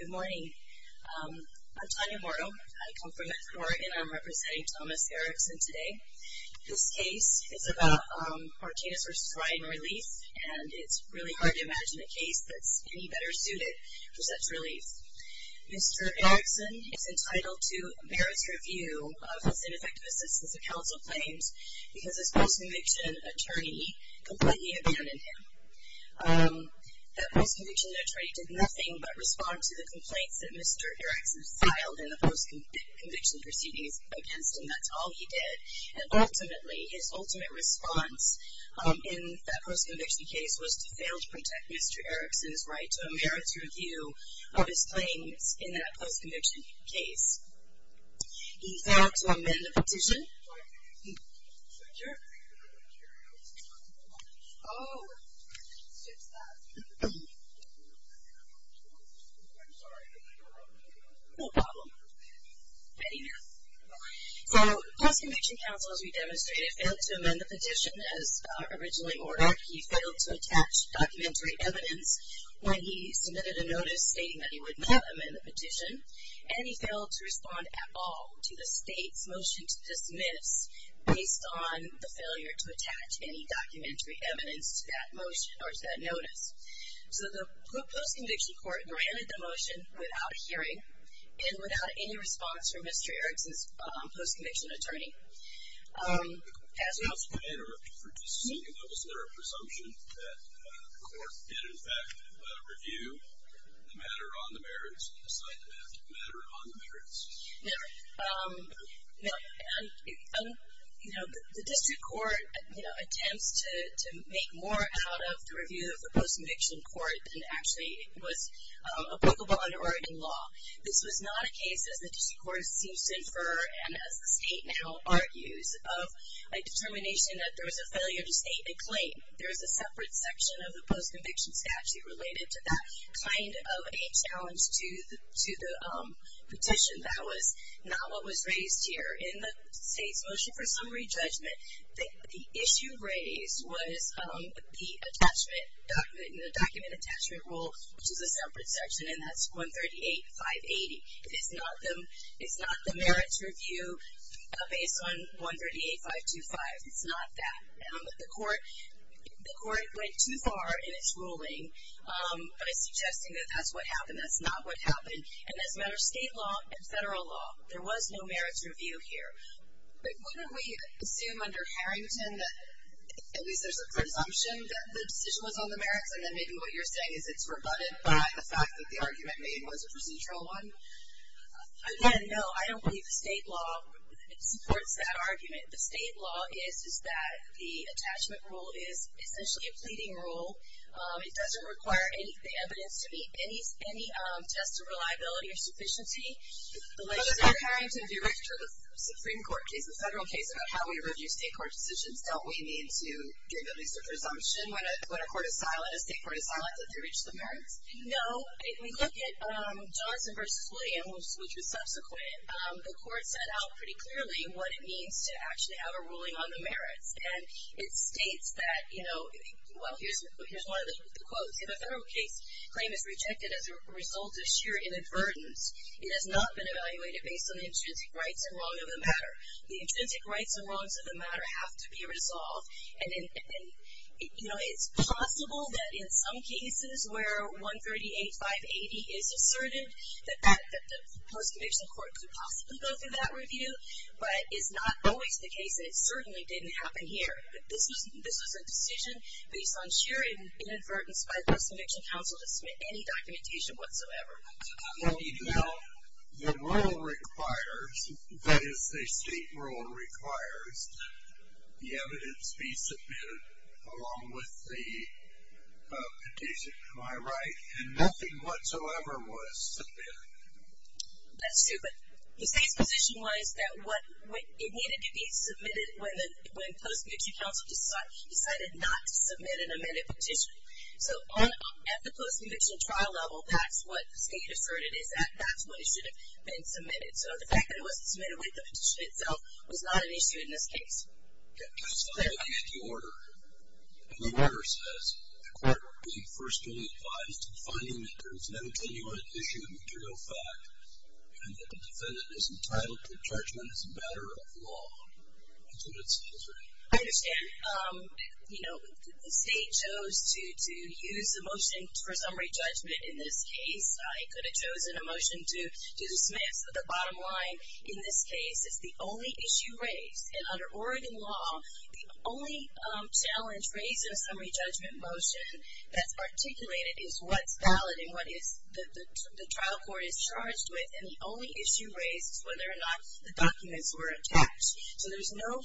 Good morning. I'm Tanya Morrow. I come from the court and I'm representing Thomas Erickson today. This case is about Martinez v. Ryan Relief and it's really hard to imagine a case that's any better suited for such relief. Mr. Erickson is entitled to Barrett's review of his ineffective assistance of counsel claims because his post-conviction attorney completely abandoned him. That post-conviction attorney did nothing but respond to the complaints that Mr. Erickson filed in the post-conviction proceedings against him. That's all he did. And ultimately, his ultimate response in that post-conviction case was to fail to protect Mr. Erickson's right to a Barrett's review of his claims in that post-conviction case. He failed to amend the petition. So, post-conviction counsel, as we demonstrated, failed to amend the petition as originally ordered. He failed to attach documentary evidence when he submitted a notice stating that he would not amend the petition. And he failed to respond at all to the state's motion to dismiss based on the failure to attach any documentary evidence to that motion or to that notice. So the post-conviction court granted the motion without hearing and without any response from Mr. Erickson's post-conviction attorney. As we also pointed out, for just a second, was there a presumption that the court did, in fact, review the matter on the Barrett's and decide to amend the matter on the Barrett's? No. The district court attempts to make more out of the review of the post-conviction court than actually was applicable under Oregon law. This was not a case, as the district court seems to infer and as the state now argues, of a determination that there was a failure to state a claim. There is a separate section of the post-conviction statute related to that kind of a challenge to the petition that was not what was raised here. In the state's motion for summary judgment, the issue raised was the document attachment rule, which is a separate section, and that's 138.580. It's not the Barrett's review based on 138.525. It's not that. The court went too far in its ruling by suggesting that that's what happened. That's not what happened. And as a matter of state law and federal law, there was no Barrett's review here. Wouldn't we assume under Harrington that at least there's a presumption that the decision was on the Barrett's and then maybe what you're saying is it's rebutted by the fact that the argument made was a procedural one? Again, no. I don't believe the state law supports that argument. The state law is that the attachment rule is essentially a pleading rule. It doesn't require the evidence to meet any test of reliability or sufficiency. But under Harrington, if you refer to the Supreme Court case, the federal case about how we review state court decisions, don't we need to give at least a presumption when a court is silent, a state court is silent, that they reach the Barrett's? No. If we look at Johnson v. Williams, which was subsequent, the court set out pretty clearly what it means to actually have a ruling on the Barrett's. And it states that, you know, well, here's one of the quotes. If a federal case claim is rejected as a result of sheer inadvertence, it has not been evaluated based on the intrinsic rights and wrongs of the matter. The intrinsic rights and wrongs of the matter have to be resolved. And, you know, it's possible that in some cases where 138580 is asserted, that the post-conviction court could possibly go through that review. But it's not always the case, and it certainly didn't happen here. This was a decision based on sheer inadvertence by the post-conviction counsel to submit any documentation whatsoever. Now, the rule requires, that is the state rule requires, the evidence be submitted along with the petition. Am I right? And nothing whatsoever was submitted. That's true, but the state's position was that it needed to be submitted when post-conviction counsel decided not to submit an amended petition. So, at the post-conviction trial level, that's what the state asserted, is that that's when it should have been submitted. So, the fact that it wasn't submitted with the petition itself was not an issue in this case. Okay. I just want to look at the order. The order says, the court will be first to be advised in finding that there is an evidential issue of material fact, and that the defendant is entitled to judgment as a matter of law. That's what it says, right? I understand. You know, the state chose to use the motion for summary judgment in this case. I could have chosen a motion to dismiss the bottom line. In this case, it's the only issue raised, and under Oregon law, the only challenge raised in a summary judgment motion that's articulated is what's valid and what the trial court is charged with, and the only issue raised is whether or not the documents were attached. So, there's no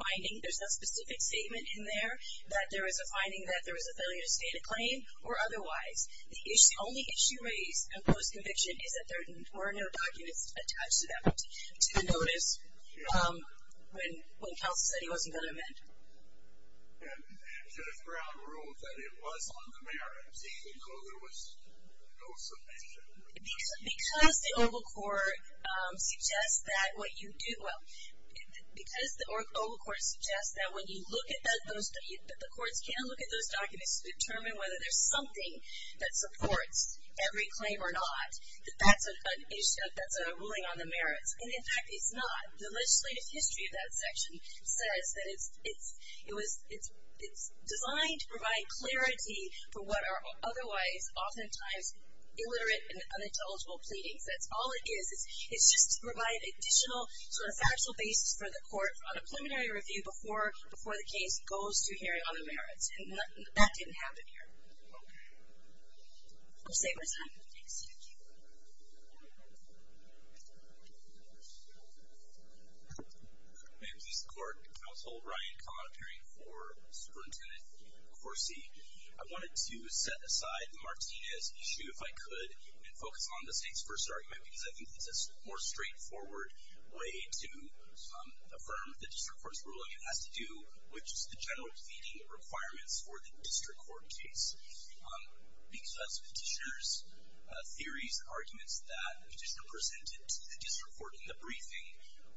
finding, there's no specific statement in there that there is a finding that there was a failure to state a claim, or otherwise. The only issue raised in post-conviction is that there were no documents attached to that one, to the notice when counsel said he wasn't going to amend it. And Judge Brown ruled that it was on the merits, even though there was no submission. Because the Oval Court suggests that what you do, well, because the Oval Court suggests that when you look at those, the courts can look at those documents to determine whether there's something that supports every claim or not, that that's an issue that's a ruling on the merits. And, in fact, it's not. The legislative history of that section says that it's designed to provide clarity for what are otherwise, oftentimes, illiterate and unintelligible pleadings. That's all it is. It's just to provide additional sort of factual basis for the court on a preliminary review before the case goes to hearing on the merits. And that didn't happen here. We'll save our time. Thanks. Thank you. May it please the Court. Counsel Ryan, comment hearing for Superintendent Corsi. I wanted to set aside Martinez's issue, if I could, and focus on the state's first argument, because I think it's a more straightforward way to affirm the district court's ruling. It has to do with just the general feeding requirements for the district court case. Because petitioner's theories, arguments that the petitioner presented to the district court in the briefing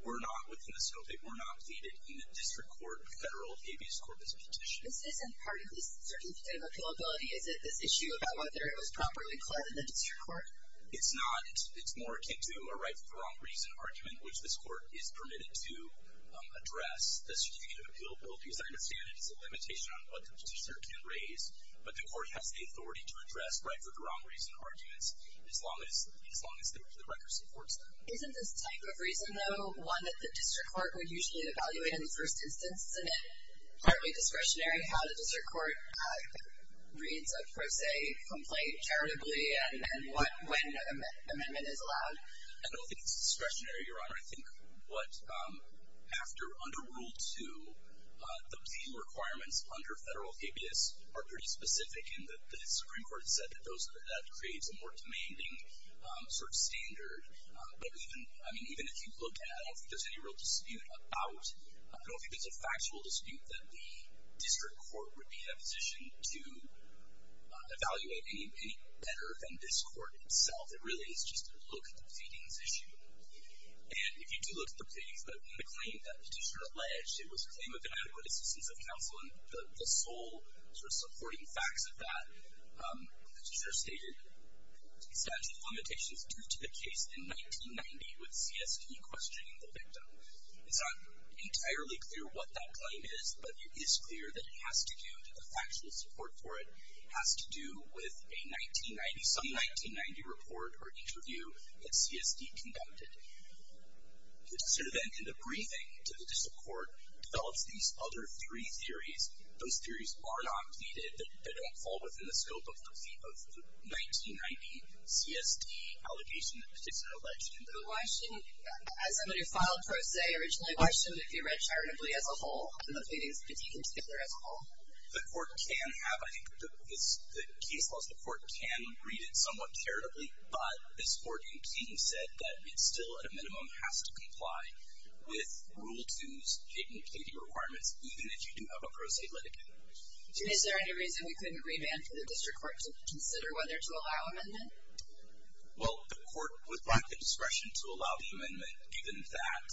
were not within the scope, they were not pleaded in the district court federal habeas corpus petition. This isn't part of the certificate of appealability. Is it this issue about whether it was properly cleared in the district court? It's not. It's more akin to a right for the wrong reason argument, which this court is permitted to address. The certificate of appealability, as I understand it, is a limitation on what the petitioner can raise. But the court has the authority to address right for the wrong reason arguments, as long as the record supports that. Isn't this type of reason, though, one that the district court would usually evaluate in the first instance? Isn't it partly discretionary how the district court reads a pro se complaint charitably and when an amendment is allowed? I don't think it's discretionary, Your Honor. I think what after under Rule 2, the appeal requirements under federal habeas are pretty specific, and the Supreme Court has said that that creates a more demanding sort of standard. But even if you look at it, I don't think there's any real dispute about it. I don't think there's a factual dispute that the district court would be in a position to evaluate any better than this court itself. It really is just a look at the proceedings issue. And if you do look at the proceedings, the claim that the petitioner alleged, it was a claim of inadequate assistance of counsel, and the sole sort of supporting facts of that, the petitioner stated substantial limitations due to the case in 1990 with CST questioning the victim. It's not entirely clear what that claim is, but it is clear that it has to do with the factual support for it, has to do with a 1990, some 1990 report or interview that CST condemned it. The district court then, in the briefing to the district court, develops these other three theories. Those theories are not pleaded. They don't fall within the scope of the 1990 CST allegation that the petitioner alleged. But why shouldn't, as somebody who filed pro se originally, why shouldn't it be read charitably as a whole, and the pleadings be deconstituted as a whole? The court can have, I think, the case laws, the court can read it somewhat charitably, but this court in King said that it still, at a minimum, has to comply with Rule 2's patent pleading requirements, even if you do have a pro se litigant. Is there any reason we couldn't revamp the district court to consider whether to allow amendment? Well, the court would lack the discretion to allow the amendment, given that,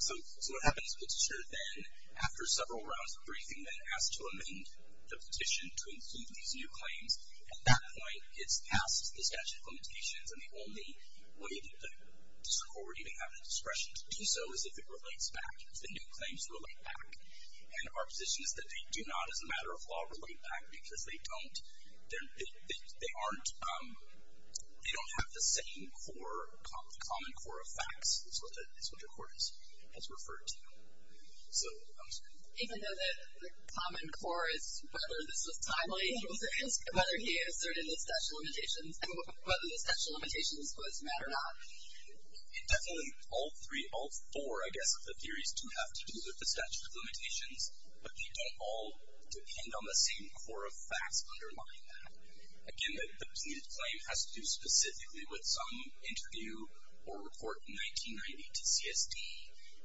so what happens is the petitioner then, after several rounds of briefing, then asks to amend the petition to include these new claims. At that point, it's passed the statute of limitations, and the only way that the district court would even have the discretion to do so is if it relates back, if the new claims relate back, and our position is that they do not, as a matter of law, relate back, because they don't. They aren't, they don't have the same core, the common core of facts as what the court has referred to. Even though the common core is whether this was timely, whether he asserted the statute of limitations, and whether the statute of limitations was met or not. Definitely all three, all four, I guess, of the theories do have to do with the statute of limitations, but they don't all depend on the same core of facts underlying that. Again, the pleaded claim has to do specifically with some interview or report in 1990 to CSD,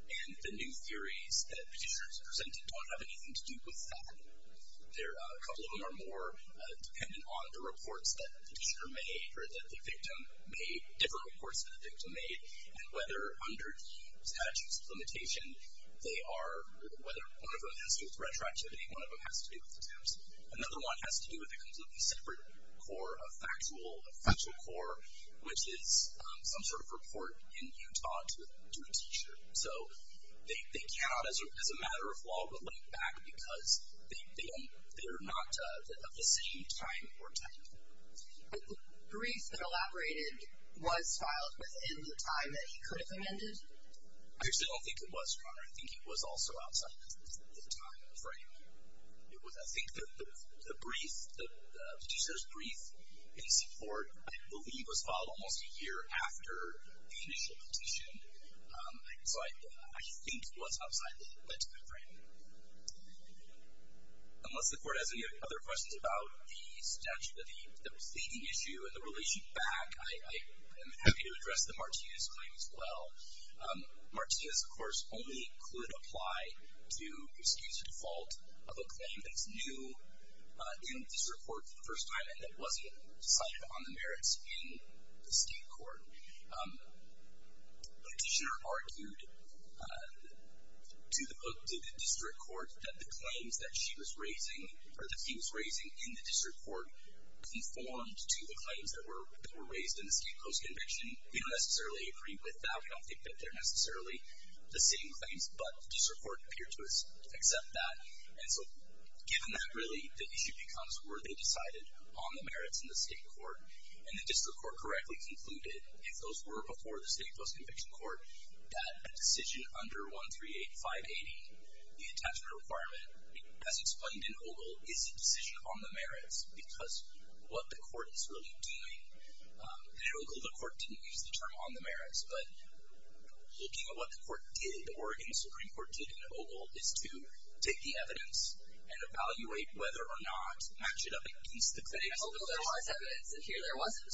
and the new theories that petitioners presented don't have anything to do with that. A couple of them are more dependent on the reports that the petitioner made, or that the victim made, different reports that the victim made, and whether under the statute of limitations, they are, whether one of them has to do with retroactivity, one of them has to do with attempts. Another one has to do with a completely separate core of factual, factual core, which is some sort of report in Utah to a teacher. So they cannot, as a matter of law, relate back because they don't, they are not of the same time or time. The brief that elaborated was filed within the time that he could have amended? I actually don't think it was, Your Honor. I think it was also outside of the time frame. I think the brief, the petitioner's brief in support, I believe, was filed almost a year after the initial petition. So I think it was outside the time frame. Unless the Court has any other questions about the statute, the pleading issue and the relation back, I am happy to address the Martinez claim as well. Martinez, of course, only could apply to excuse the default of a claim that's new in district court for the first time and that wasn't decided on the merits in the state court. The petitioner argued to the district court that the claims that she was raising, or that he was raising in the district court, conformed to the claims that were raised in the state post-conviction. We don't necessarily agree with that. We don't think that they're necessarily the same claims, but the district court appeared to accept that. And so given that, really, the issue becomes, were they decided on the merits in the state court? And the district court correctly concluded, if those were before the state post-conviction court, that a decision under 138580, the attachment requirement, as explained in Ogle, is a decision on the merits because what the court is really doing. In Ogle, the court didn't use the term on the merits, but looking at what the court did, or what the Supreme Court did in Ogle, is to take the evidence and evaluate whether or not, match it up against the claims. But in Ogle, there was evidence. In here, there wasn't.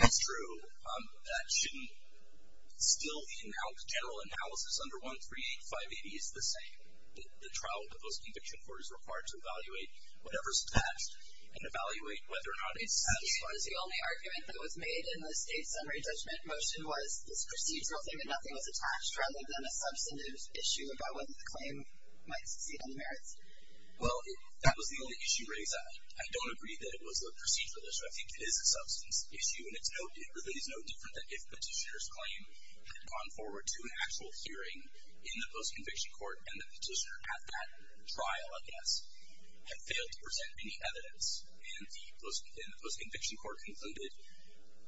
That's true. That shouldn't. Still, the general analysis under 138580 is the same. The trial post-conviction court is required to evaluate whatever's passed and evaluate whether or not it satisfies. The only argument that was made in the state summary judgment motion was this procedural thing and nothing was attached, rather than a substantive issue about whether the claim might succeed on the merits. Well, that was the only issue raised. I don't agree that it was a procedural issue. I think it is a substance issue, and it really is no different than if the petitioner's claim had gone forward to an actual hearing in the post-conviction court, and the petitioner at that trial, I guess, had failed to present any evidence. And the post-conviction court concluded,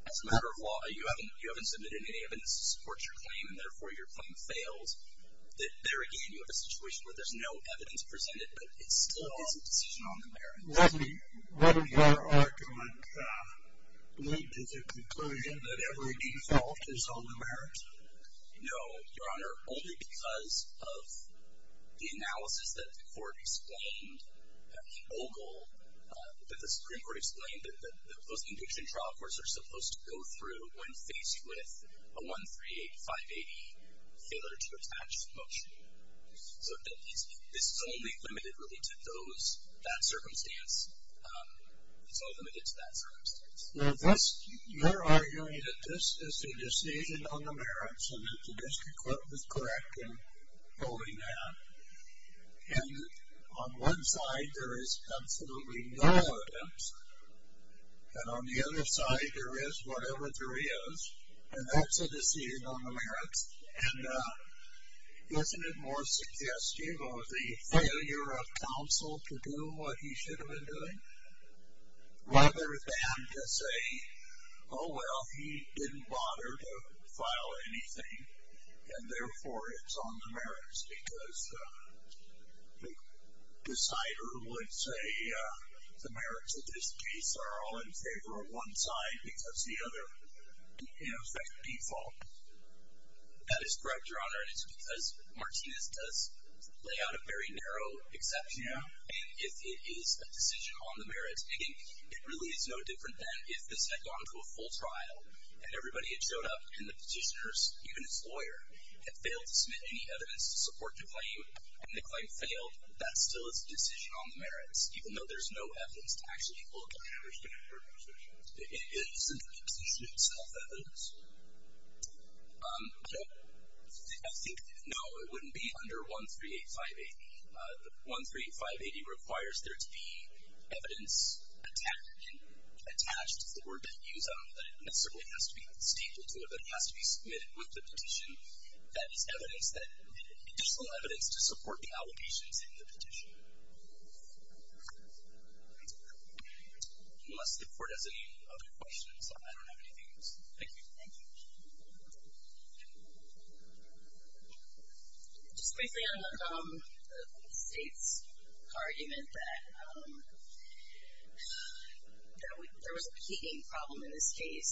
as a matter of law, you haven't submitted any evidence to support your claim, and therefore your claim failed. There, again, you have a situation where there's no evidence presented, but it still is a decision on the merits. Let me interrupt on that. Was it a conclusion that every default is on the merits? No, Your Honor. Only because of the analysis that the court explained, that the OGL, that the Supreme Court explained that the post-conviction trial courts are supposed to go through when faced with a 138580 failure to attach motion. So this is only limited, really, to those, that circumstance. It's only limited to that circumstance. Your argument is that this is a decision on the merits, and that the district court was correct in holding that. And on one side, there is absolutely no evidence. And on the other side, there is whatever there is, and that's a decision on the merits. And isn't it more suggestive of the failure of counsel to do what he should have been doing, rather than to say, oh, well, he didn't bother to file anything, and therefore it's on the merits, because the decider would say the merits of this case are all in favor of one side because the other has that default. That is correct, Your Honor, and it's because Martinez does lay out a very narrow exception, and it is a decision on the merits. And it really is no different than if this had gone to a full trial and everybody had showed up, and the petitioners, even his lawyer, had failed to submit any evidence to support the claim, and the claim failed, that still is a decision on the merits, even though there's no evidence to actually look at it. I understand your position. Isn't the petition itself evidence? No. I think, no, it wouldn't be under 138580. 138580 requires there to be evidence attached, it's the word they use, that it necessarily has to be stapled to it, but it has to be submitted with the petition that is evidence, additional evidence to support the allegations in the petition. Unless the Court has any other questions, I don't have anything else. Thank you. Thank you. Just briefly on the State's argument that there was a peaking problem in this case,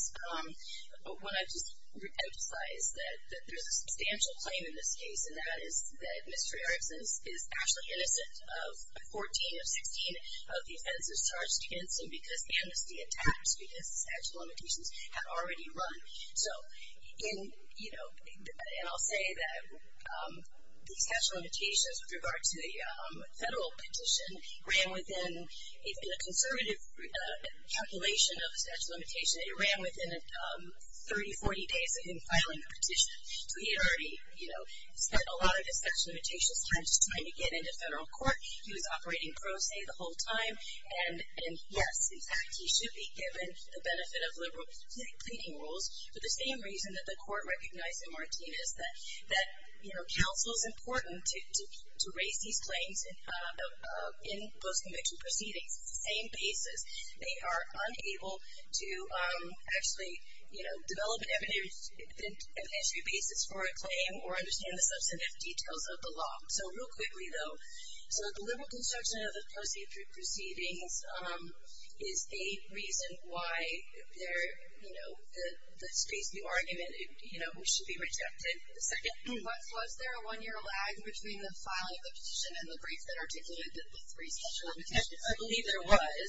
I want to just emphasize that there's a substantial claim in this case, and that is that Mr. Erickson is actually innocent of 14 of 16 of the offenses charged against him because amnesty attacks, because the statute of limitations had already run. And I'll say that the statute of limitations with regard to the federal petition ran within, in a conservative calculation of the statute of limitations, it ran within 30, 40 days of him filing the petition. So he had already spent a lot of his statute of limitations time just trying to get into federal court. He was operating pro se the whole time. And, yes, in fact, he should be given the benefit of liberal pleading rules, for the same reason that the Court recognized in Martinez that, you know, counsel is important to raise these claims in post-conviction proceedings. It's the same basis. They are unable to actually, you know, develop an evidentiary basis for a claim or understand the substantive details of the law. So real quickly, though. So the liberal construction of the post-conviction proceedings is a reason why there, you know, this case, the argument, you know, should be rejected. Second? Was there a one-year lag between the filing of the petition and the brief that articulated the three statute of limitations? I believe there was.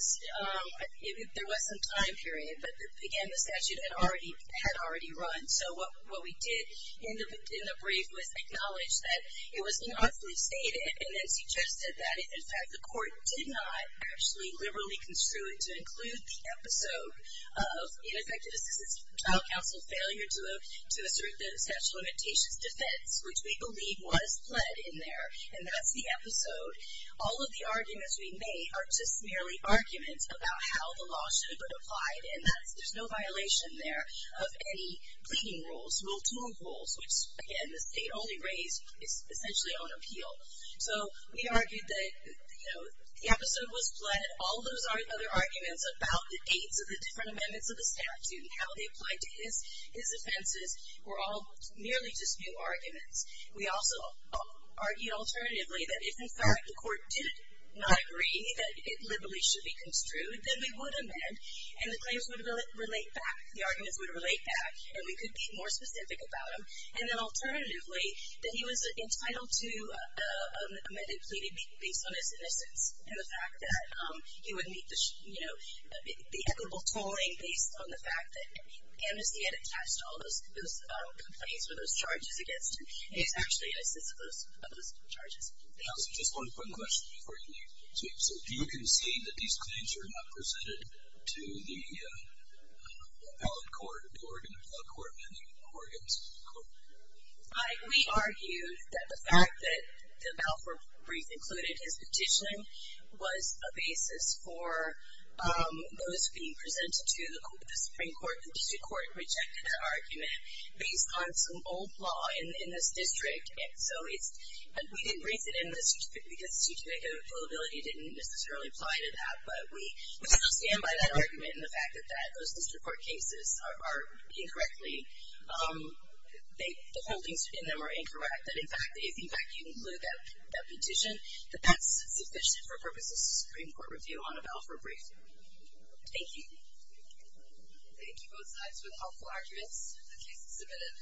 There was some time period. But, again, the statute had already run. So what we did in the brief was acknowledge that it was not fully stated and then suggested that, in fact, the Court did not actually liberally construe it to include the episode of, in effect, a child counsel failure to assert the statute of limitations defense, which we believe was pled in there. And that's the episode. All of the arguments we made are just merely arguments about how the law should have been applied. And there's no violation there of any pleading rules, rule-to-rule rules, which, again, the State only raised essentially on appeal. So we argued that, you know, the episode was pled. All those other arguments about the dates of the different amendments of the statute and how they applied to his offenses were all merely just new arguments. We also argued alternatively that if, in fact, the Court did not agree that it liberally should be construed, then we would amend. And the claims would relate back. The arguments would relate back. And we could be more specific about them. And then, alternatively, that he was entitled to amended pleading based on his innocence and the fact that he would meet the, you know, the equitable tolling based on the fact that Amnesty had attached all those complaints or those charges against him. And he's actually innocent of those charges. Yes. Just one quick question before you leave. So do you concede that these claims are not presented to the valid court, the Oregon Appellate Court and the Oregon Supreme Court? We argued that the fact that the Balfour brief included his petitioning was a basis for those being presented to the Supreme Court. The district court rejected that argument based on some old law in this district. And so it's, and we didn't raise it in this district because district availability didn't necessarily apply to that. But we stand by that argument and the fact that those district court cases are incorrectly, the holdings in them are incorrect. That, in fact, if, in fact, you include that petition, that that's sufficient for purposes of Supreme Court review on a Balfour brief. Thank you. Thank you both sides with helpful arguments. The case is submitted.